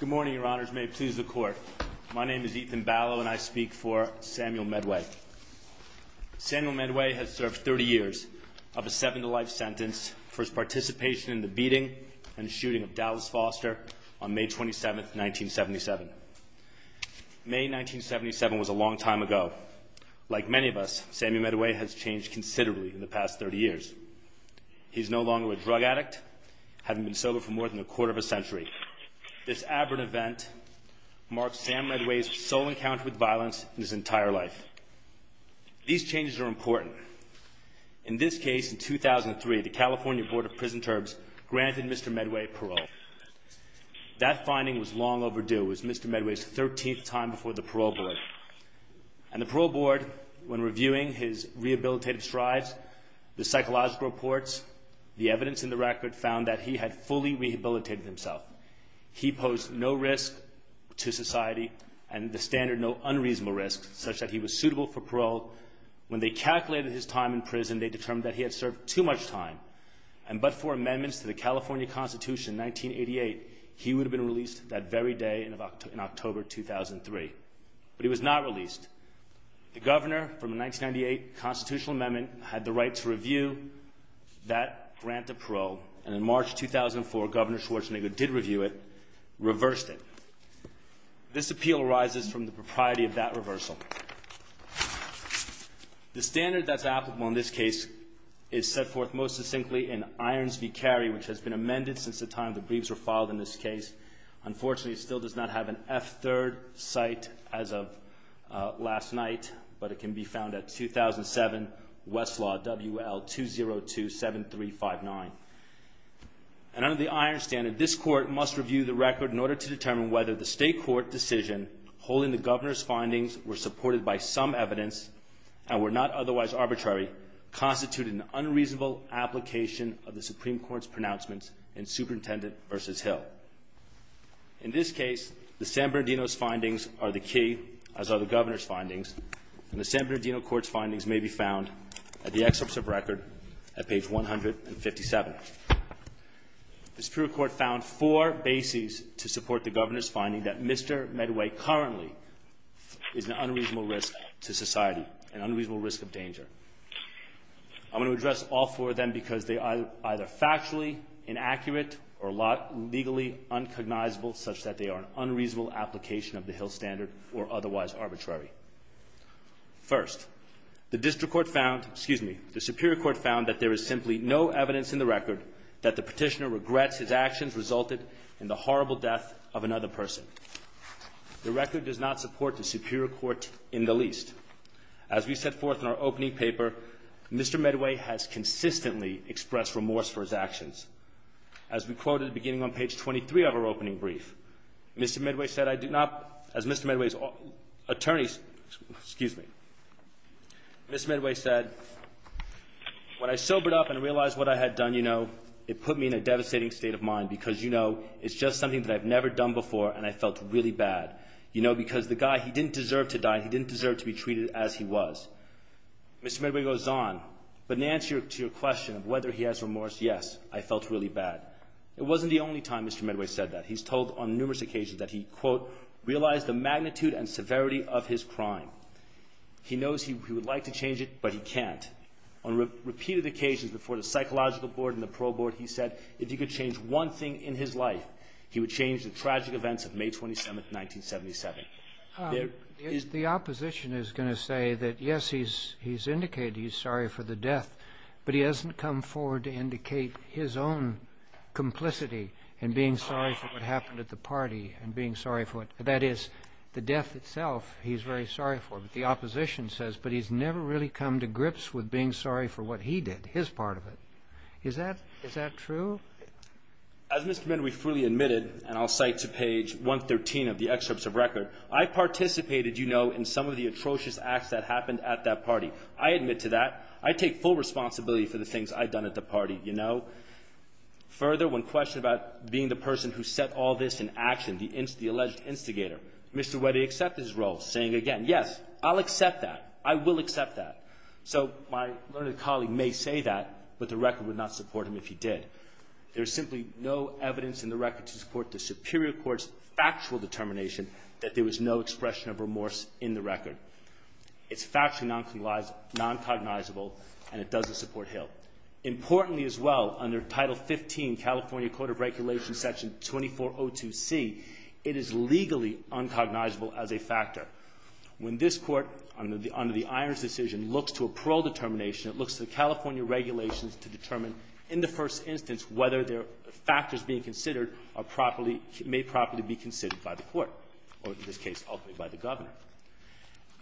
Good morning, your honors. May it please the court. My name is Ethan Ballow and I speak for Samuel Medway. Samuel Medway has served 30 years of a seven-to-life sentence for his participation in the beating and shooting of Dallas Foster on May 27, 1977. May 1977 was a long time ago. Like many of us, Samuel Medway has changed considerably in the past 30 years. He's no longer a drug addict, having been sober for more than a quarter of a century, this aberrant event marks Sam Medway's sole encounter with violence in his entire life. These changes are important. In this case, in 2003, the California Board of Prison Terms granted Mr. Medway parole. That finding was long overdue. It was Mr. Medway's 13th time before the parole board. And the parole board, when reviewing his rehabilitative strides, the psychological reports, the evidence in the record found that he had fully rehabilitated himself. He posed no risk to society and the standard, no unreasonable risk, such that he was suitable for parole. When they calculated his time in prison, they determined that he had served too much time. And but for amendments to the California Constitution, 1988, he would have been released that very day in October 2003. But he was not released. The governor from the 1998 constitutional amendment had the right to review that grant of parole. And in March 2004, Governor Schwarzenegger did review it, reversed it. This appeal arises from the propriety of that reversal. The standard that's applicable in this case is set forth most succinctly in Irons v. Carey, which has been amended since the time the briefs were filed in this case. Unfortunately, it still does not have an F-3rd site as of last night, but it can be found at 2007, Westlaw, WL2027359. And under the Irons standard, this court must review the record in order to determine whether the state court decision holding the governor's findings were supported by some evidence and were not otherwise arbitrary constituted an unreasonable application of the Supreme Court's pronouncements in Superintendent v. Hill. In this case, the San Bernardino's findings are the key, as are the governor's findings. And the San Bernardino court's findings may be found at the excerpts of record at page 157. The Supreme Court found four bases to support the governor's finding that Mr. Medway currently is an unreasonable risk to society, an unreasonable risk of danger. I'm going to address all four of them because they are either factually inaccurate or legally uncognizable such that they are an unreasonable application of the Hill standard or otherwise arbitrary. First, the district court found, excuse me, the superior court found that there is simply no evidence in the record that the petitioner regrets his actions resulted in the horrible death of another person. The record does not support the superior court in the least. As we set forth in our opening paper, Mr. Medway has consistently expressed remorse for his actions. As we quoted at the beginning on page 23 of our opening brief, Mr. Medway said, I do not, as Mr. Medway's attorneys, excuse me, Ms. Medway said, when I sobered up and realized what I had done, you know, it put me in a devastating state of mind because, you know, it's just something that I've never done before and I felt really bad, you know, because the question was. Mr. Medway goes on, but in answer to your question of whether he has remorse, yes, I felt really bad. It wasn't the only time Mr. Medway said that. He's told on numerous occasions that he, quote, realized the magnitude and severity of his crime. He knows he would like to change it, but he can't. On repeated occasions before the Psychological Board and the Parole Board, he said if he could change one thing in his life, he would change the tragic events of May 27, 1977. The opposition is going to say that, yes, he's indicated he's sorry for the death, but he hasn't come forward to indicate his own complicity in being sorry for what happened at the party and being sorry for it. That is, the death itself, he's very sorry for, but the opposition says, but he's never really come to grips with being sorry for what he did, his part of it. Is that true? As Mr. Medway fully admitted, and I'll cite to page 113 of the excerpts of record, I participated, you know, in some of the atrocious acts that happened at that party. I admit to that. I take full responsibility for the things I've done at the party, you know. Further, when questioned about being the person who set all this in action, the alleged instigator, Mr. Weddy accepted his role, saying again, yes, I'll accept that. I will accept that. So my learned colleague may say that, but the record would not support him if he did. There's simply no evidence in the record to support the superior court's factual determination that there was no expression of remorse in the record. It's factually noncognizable, and it doesn't support Hill. Importantly as well, under Title 15, California Court of Regulations, Section 2402C, it is looks to a parole determination, it looks to the California regulations to determine in the first instance whether factors being considered are properly, may properly be considered by the court, or in this case, ultimately by the governor.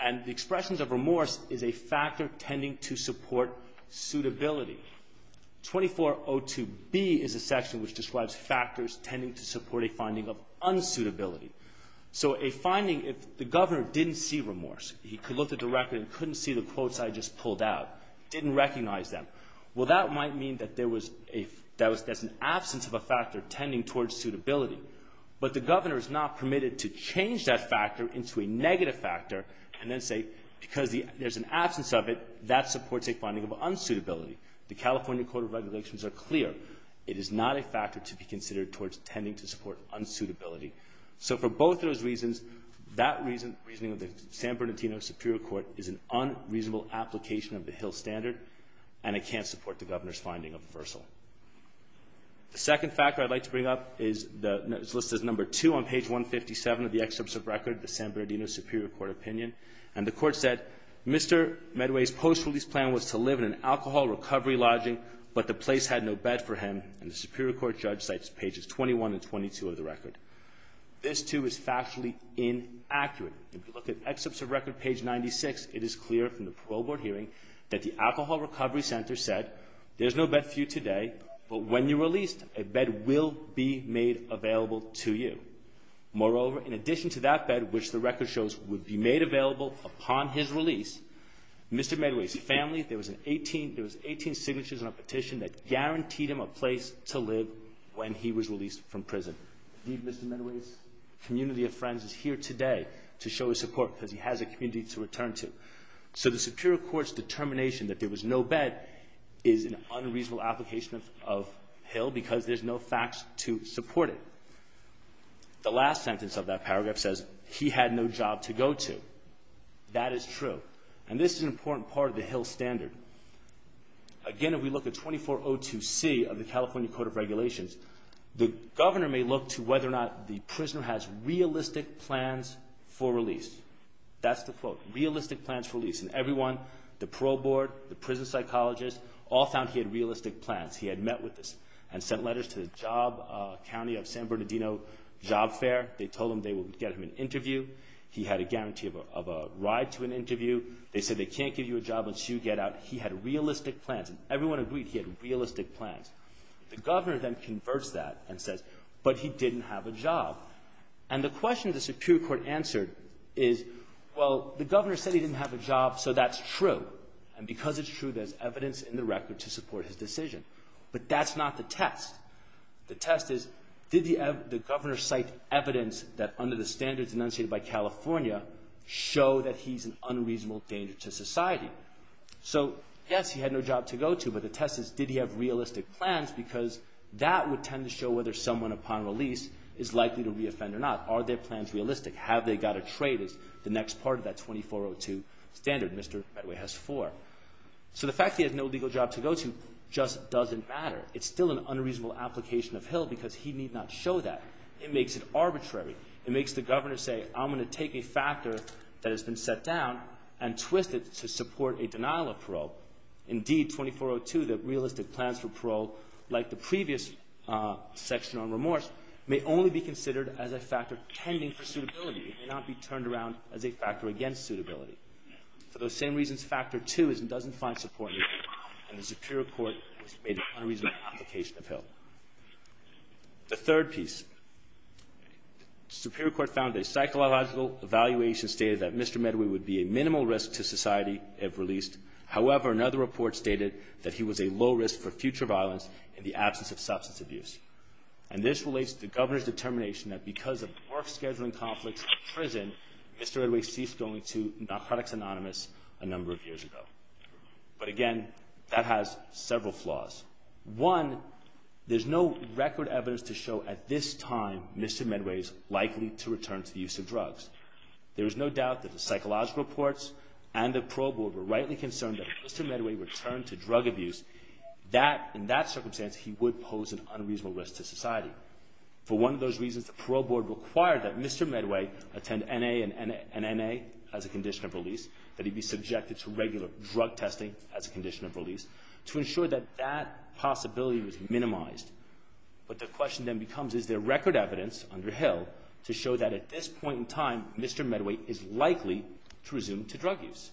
And the expressions of remorse is a factor tending to support suitability. 2402B is a section which describes factors tending to support a finding of unsuitability. So a finding, if the governor didn't see remorse, he could look at the record and couldn't see the quotes I just pulled out, didn't recognize them. Well, that might mean that there was an absence of a factor tending towards suitability. But the governor is not permitted to change that factor into a negative factor and then say, because there's an absence of it, that supports a finding of unsuitability. The California Court of Regulations are clear. It is not a factor to be considered towards tending to support unsuitability. So for both of those reasons, that reasoning of the San Bernardino Superior Court is an unreasonable application of the Hill Standard, and it can't support the governor's finding of reversal. The second factor I'd like to bring up is listed as number two on page 157 of the excerpt of record, the San Bernardino Superior Court opinion. And the court said, Mr. Medway's post-release plan was to live in an alcohol recovery lodging, but the place had no bed for him, and the Superior Court judge cites pages 21 and 22 of the record. This too is factually inaccurate. If you look at excerpts of record page 96, it is clear from the parole board hearing that the alcohol recovery center said, there's no bed for you today, but when you're released, a bed will be made available to you. Moreover, in addition to that bed, which the record shows would be made available upon his release, Mr. Medway's family, there was 18 signatures on a petition that guaranteed him a place to live when he was released from prison. Indeed, Mr. Medway's community of friends is here today to show his support because he has a community to return to. So the Superior Court's determination that there was no bed is an unreasonable application of Hill because there's no facts to support it. The last sentence of that paragraph says, he had no job to go to. That is true. And this is an important part of the Hill standard. Again, if we look at 2402C of the California Code of Regulations, the governor may look to whether or not the prisoner has realistic plans for release. That's the quote, realistic plans for release. And everyone, the parole board, the prison psychologist, all found he had realistic plans. He had met with this and sent letters to the job county of San Bernardino job fair. They told him they would get him an interview. He had a guarantee of a ride to an interview. They said they can't give you a job unless you get out. He had realistic plans. Everyone agreed he had realistic plans. The governor then converts that and says, but he didn't have a job. And the question the Superior Court answered is, well, the governor said he didn't have a job, so that's true. And because it's true, there's evidence in the record to support his decision. But that's not the test. The test is, did the governor cite evidence that under the standards enunciated by California show that he's an unreasonable danger to society? So yes, he had no job to go to, but the test is, did he have realistic plans? Because that would tend to show whether someone upon release is likely to reoffend or not. Are their plans realistic? Have they got a trade is the next part of that 2402 standard. Mr. Medway has four. So the fact he has no legal job to go to just doesn't matter. It's still an unreasonable application of Hill because he need not show that. It makes it arbitrary. It makes the governor say, I'm going to take a factor that has been set down and twist it to support a denial of parole. Indeed, 2402, the realistic plans for parole, like the previous section on remorse, may only be considered as a factor tending for suitability. It may not be turned around as a factor against suitability. For those same reasons, factor two is it doesn't find support in the Superior Court, which made an unreasonable application of Hill. The third piece, Superior Court found a psychological evaluation stated that Mr. Medway would be a minimal risk to society if released. However, another report stated that he was a low risk for future violence in the absence of substance abuse. And this relates to the governor's determination that because of work scheduling conflicts in prison, Mr. Medway ceased going to Narcotics Anonymous a number of years ago. But again, that has several flaws. One, there's no record evidence to show at this time Mr. Medway's likely to return to use of drugs. There is no doubt that the psychological reports and the parole board were rightly concerned that if Mr. Medway returned to drug abuse, that in that circumstance, he would pose an unreasonable risk to society. For one of those reasons, the parole board required that Mr. Medway attend NA and NA as a condition of release, that he be subjected to regular drug testing as a condition of release, to ensure that that possibility was minimized. But the question then becomes, is there record evidence under Hill to show that at this point in time, Mr. Medway is likely to resume to drug use?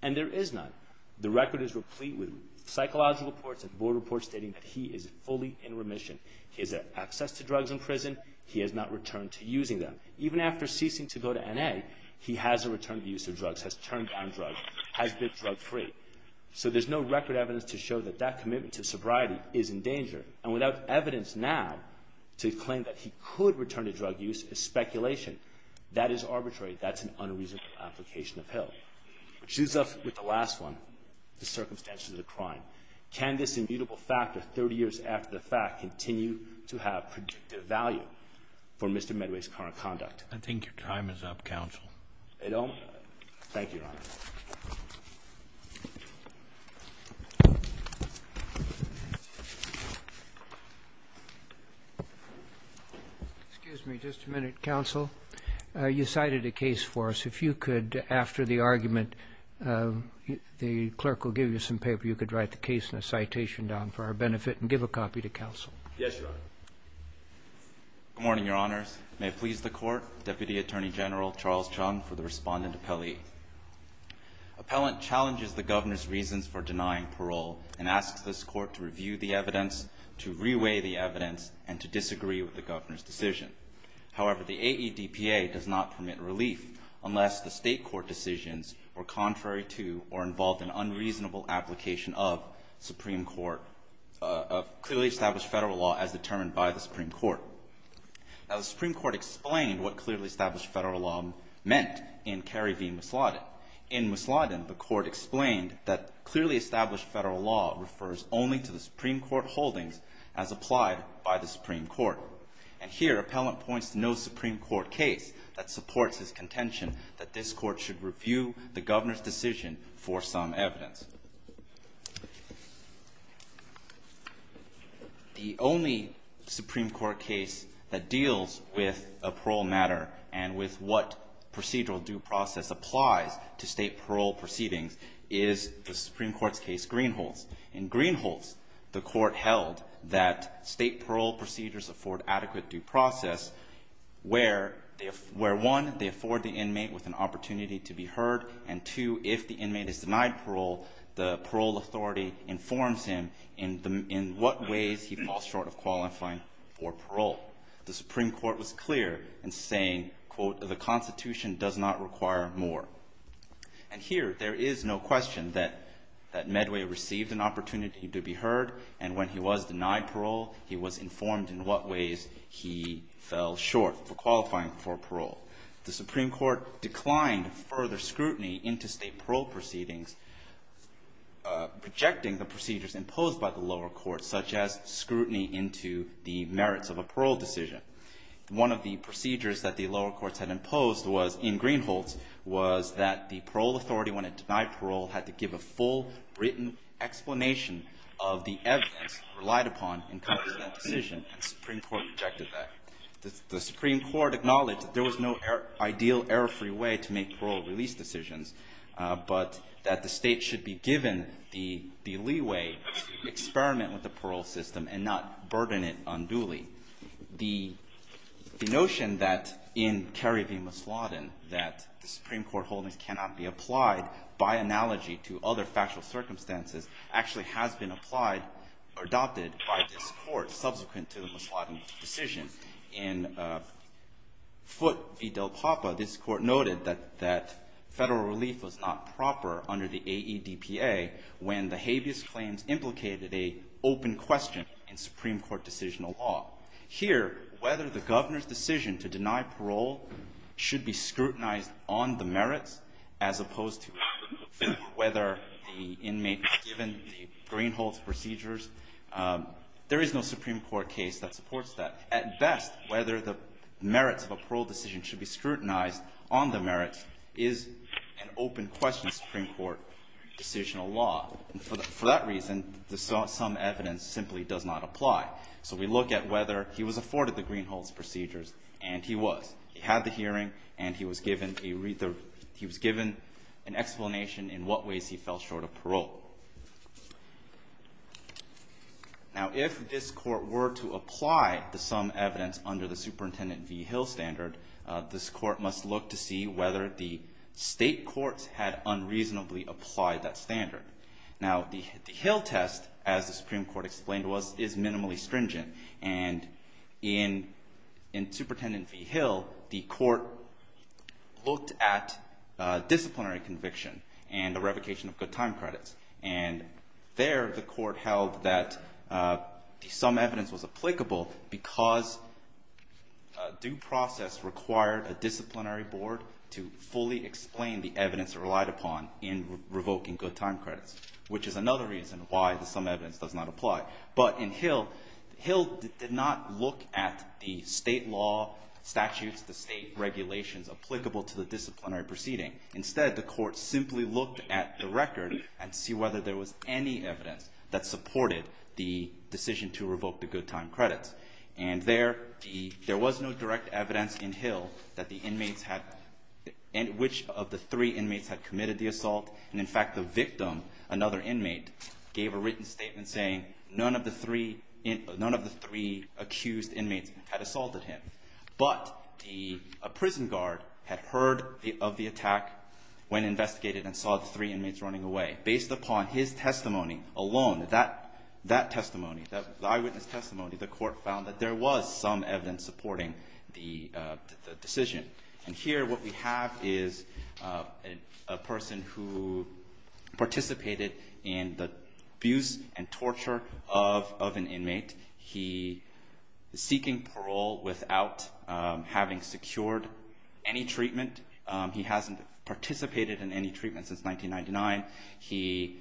And there is none. The record is replete with psychological reports and board reports stating that he is fully in remission. He has access to drugs in prison. He has not returned to using them. Even after ceasing to go to NA, he has a return to use of drugs, has turned down drugs, has been drug free. So there's no record evidence to show that that commitment to sobriety is in danger. And without evidence now to claim that he could return to drug use is speculation. That is arbitrary. That's an unreasonable application of Hill. Which leaves us with the last one, the circumstances of the crime. Can this immutable fact of 30 years after the fact continue to have predictive value for Mr. Medway's current conduct? I think your time is up, counsel. I don't? Thank you, Your Honor. Excuse me just a minute, counsel. You cited a case for us. If you could, after the argument, the clerk will give you some paper. You could write the case in a citation down for our benefit and give a copy to counsel. Yes, Your Honor. Good morning, Your Honors. May it please the Court, Deputy Attorney General Charles Chung for the respondent appellee. Appellant challenges the Governor's reasons for denying parole and asks this Court to review the evidence, to reweigh the evidence, and to disagree with the Governor's decision. However, the AEDPA does not permit relief unless the State of California has a reasonable application of clearly established federal law as determined by the Supreme Court. Now, the Supreme Court explained what clearly established federal law meant in Kerry v. Mousladen. In Mousladen, the Court explained that clearly established federal law refers only to the Supreme Court holdings as applied by the Supreme Court. And here, appellant points to no Supreme Court case that supports his contention that this Court should review the Governor's decision for some evidence. The only Supreme Court case that deals with a parole matter and with what procedural due process applies to State parole proceedings is the Supreme Court's case, Greenholz. In Greenholz, the Court held that State parole procedures afford adequate due process where, one, they afford the inmate with an opportunity to be heard, and two, if the inmate is denied parole, the parole authority informs him in what ways he falls short of qualifying for parole. The Supreme Court was clear in saying, quote, the Constitution does not require more. And here, there is no question that Medway received an opportunity to be heard, and when he was denied parole, he was informed in what ways he fell short for qualifying for parole. The Supreme Court declined further scrutiny into State parole proceedings, rejecting the procedures imposed by the lower courts, such as scrutiny into the merits of a parole decision. One of the procedures that the lower courts had imposed was, in Greenholz, was that the Supreme Court rejected that. The Supreme Court acknowledged that there was no ideal, error-free way to make parole release decisions, but that the State should be given the leeway to experiment with the parole system and not burden it unduly. The notion that, in Kerry v. Masladen, that the Supreme Court holdings cannot be applied by analogy to other factual circumstances actually has been adopted by this Court subsequent to the Masladen decision. In Foote v. Del Papa, this Court noted that Federal relief was not proper under the AEDPA when the habeas claims implicated an open question in Supreme Court decisional law. Here, whether the Governor's decision to deny parole should be scrutinized on the merits, as opposed to whether the inmate was given the Greenholz procedures, there is no Supreme Court case that supports that. At best, whether the merits of a parole decision should be scrutinized on the merits is an open question in Supreme Court decisional law. For that reason, some evidence simply does not apply. So we look at whether he was afforded the Greenholz procedures, and he was. He had the he was given an explanation in what ways he fell short of parole. Now if this Court were to apply the sum evidence under the Superintendent v. Hill standard, this Court must look to see whether the State courts had unreasonably applied that standard. Now the Hill test, as the Supreme Court explained to us, is minimally stringent. And in Superintendent v. Hill, the Court looked at disciplinary conviction and the revocation of good time credits. And there, the Court held that the sum evidence was applicable because due process required a disciplinary board to fully explain the evidence relied upon in revoking good time credits, which is another reason why the sum evidence does not apply. But in Hill, Hill did not look at the State law statutes, the State regulations applicable to the disciplinary proceeding. Instead, the Court simply looked at the record and see whether there was any evidence that supported the decision to revoke the good time credits. And there, there was no direct evidence in Hill that the inmates had, which of the three inmates had committed the assault. And in fact, the victim, another inmate, gave a written statement saying none of the three accused inmates had assaulted him. But the prison guard had heard of the attack when investigated and saw the three inmates running away. Based upon his testimony alone, that testimony, the eyewitness testimony, the Court found that there was some evidence supporting the decision. And here what we have is a person who participated in the abuse and torture of, of an inmate. He is seeking parole without having secured any treatment. He hasn't participated in any treatment since 1999. He,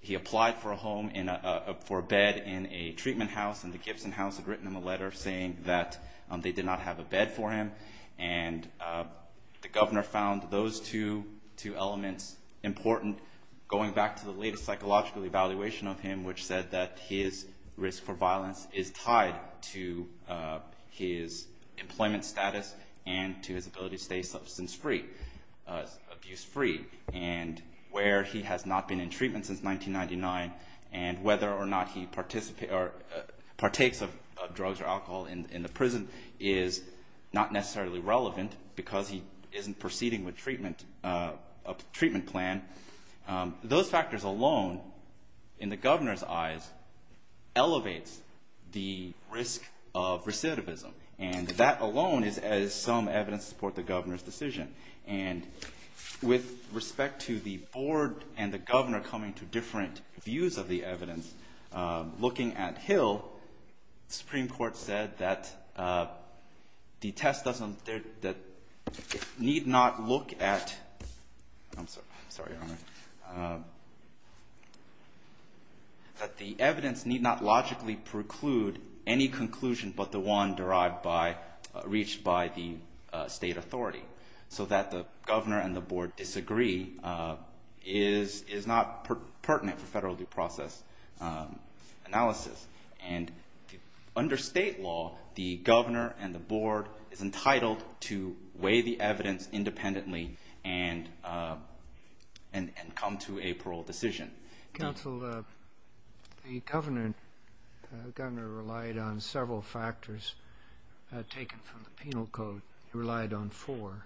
he applied for a home in a, for a bed in a treatment house and the Gibson house had written him a letter saying that they did not have a bed for him. And the governor found those two, two elements important. Going back to the latest psychological evaluation of him, which said that his risk for violence is tied to his employment status and to his ability to stay substance free, abuse free. And where he has not been in treatment since 1999 and whether or not he participates or partakes of drugs or alcohol in, in the prison is not necessarily relevant because he isn't proceeding with treatment, a treatment plan. Those factors alone in the governor's eyes elevates the risk of recidivism. And that alone is as some evidence support the governor's decision. And with respect to the board and the governor coming to different views of the evidence, looking at Hill, the Supreme Court said that the test doesn't, that it need not look at, I'm sorry, I'm sorry. That the evidence need not logically preclude any conclusion but the one derived by, reached by the state authority. So that the governor and the board disagree is, is not pertinent for federal due process analysis. And under state law, the governor and the board is entitled to weigh the evidence independently and, and, and come to a parole decision. Counsel, the governor, the governor relied on several factors taken from the penal code. He relied on four.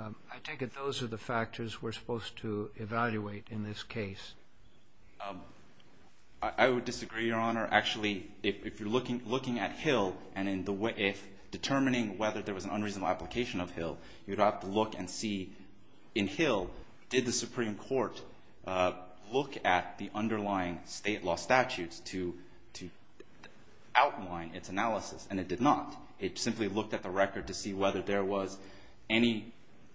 I take it those are the factors we're supposed to evaluate in this case. I would disagree, Your Honor. Actually, if, if you're looking, looking at Hill and in the way, if determining whether there was an unreasonable application of Hill, you'd have to look and see in Hill, did the Supreme Court look at the underlying state law statutes to, to outline its analysis? And it did not. It simply looked at the record to see whether there was any,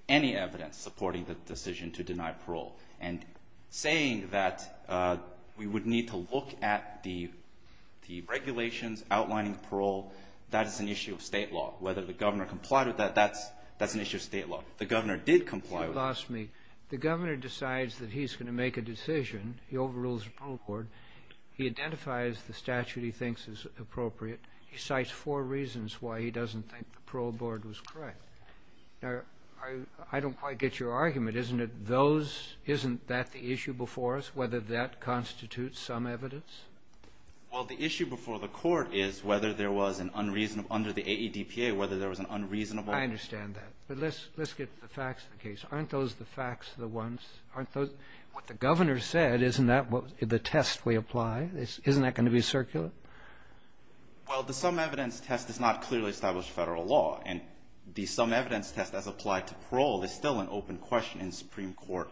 any evidence supporting the decision to deny parole. And saying that we would need to look at the, the regulations outlining parole, that is an issue of state law. Whether the governor complied with that, that's, that's an issue of state law. The governor did comply with it. Excuse me. The governor decides that he's going to make a decision. He overrules the parole board. He identifies the statute he thinks is appropriate. He cites four reasons why he doesn't think the parole board was correct. Now, I, I don't quite get your argument. Isn't it those, isn't that the issue before us, whether that constitutes some evidence? Well, the issue before the court is whether there was an unreasonable, under the AEDPA, whether there was an unreasonable. I understand that. But let's, let's get the facts of the case. Aren't those the facts of the ones, aren't those, what the governor said, isn't that what the test we apply? Isn't that going to be circulate? Well, the sum evidence test does not clearly establish federal law. And the sum evidence test as applied to parole is still an open question in Supreme Court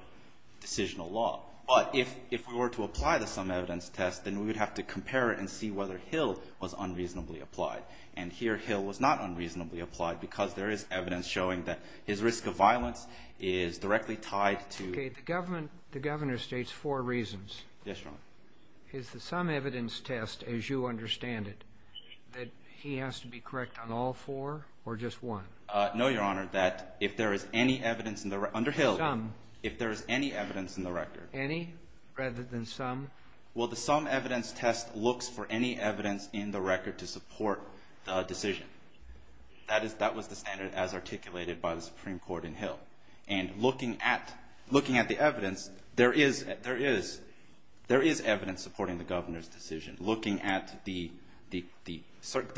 decisional law. But if, if we were to apply the sum evidence test, then we would have to compare it and see whether Hill was unreasonably applied. And here, Hill was not unreasonably applied because there is evidence showing that his risk of violence is directly tied to... Okay. The government, the governor states four reasons. Yes, Your Honor. Is the sum evidence test, as you understand it, that he has to be correct on all four or just one? No, Your Honor. That if there is any evidence in the, under Hill... Sum. If there is any evidence in the record... Any rather than sum? Well, the sum evidence test looks for any evidence in the record to support the decision. That is, that was the standard as articulated by the Supreme Court in Hill. And looking at, looking at the evidence, there is, there is, there is evidence supporting the governor's decision. Looking at the, the, the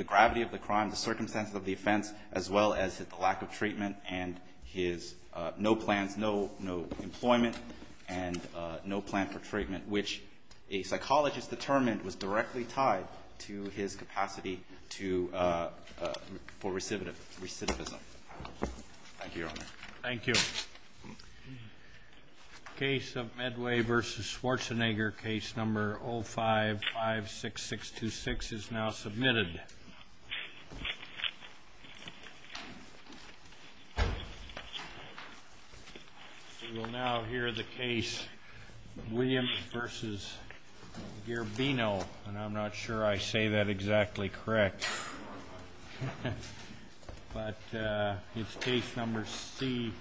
gravity of the crime, the circumstances of the offense, as well as the lack of treatment and his no plans, no, no employment, and no plan for treatment, which a psychologist determined was directly tied to his capacity to, for recidivism. Thank you, Your Honor. Thank you. The case of Medway v. Schwarzenegger, case number 0556626, is now submitted. We will now hear the case of Williams v. Gherbino. And I'm not sure I say that exactly correct. But it's case number C.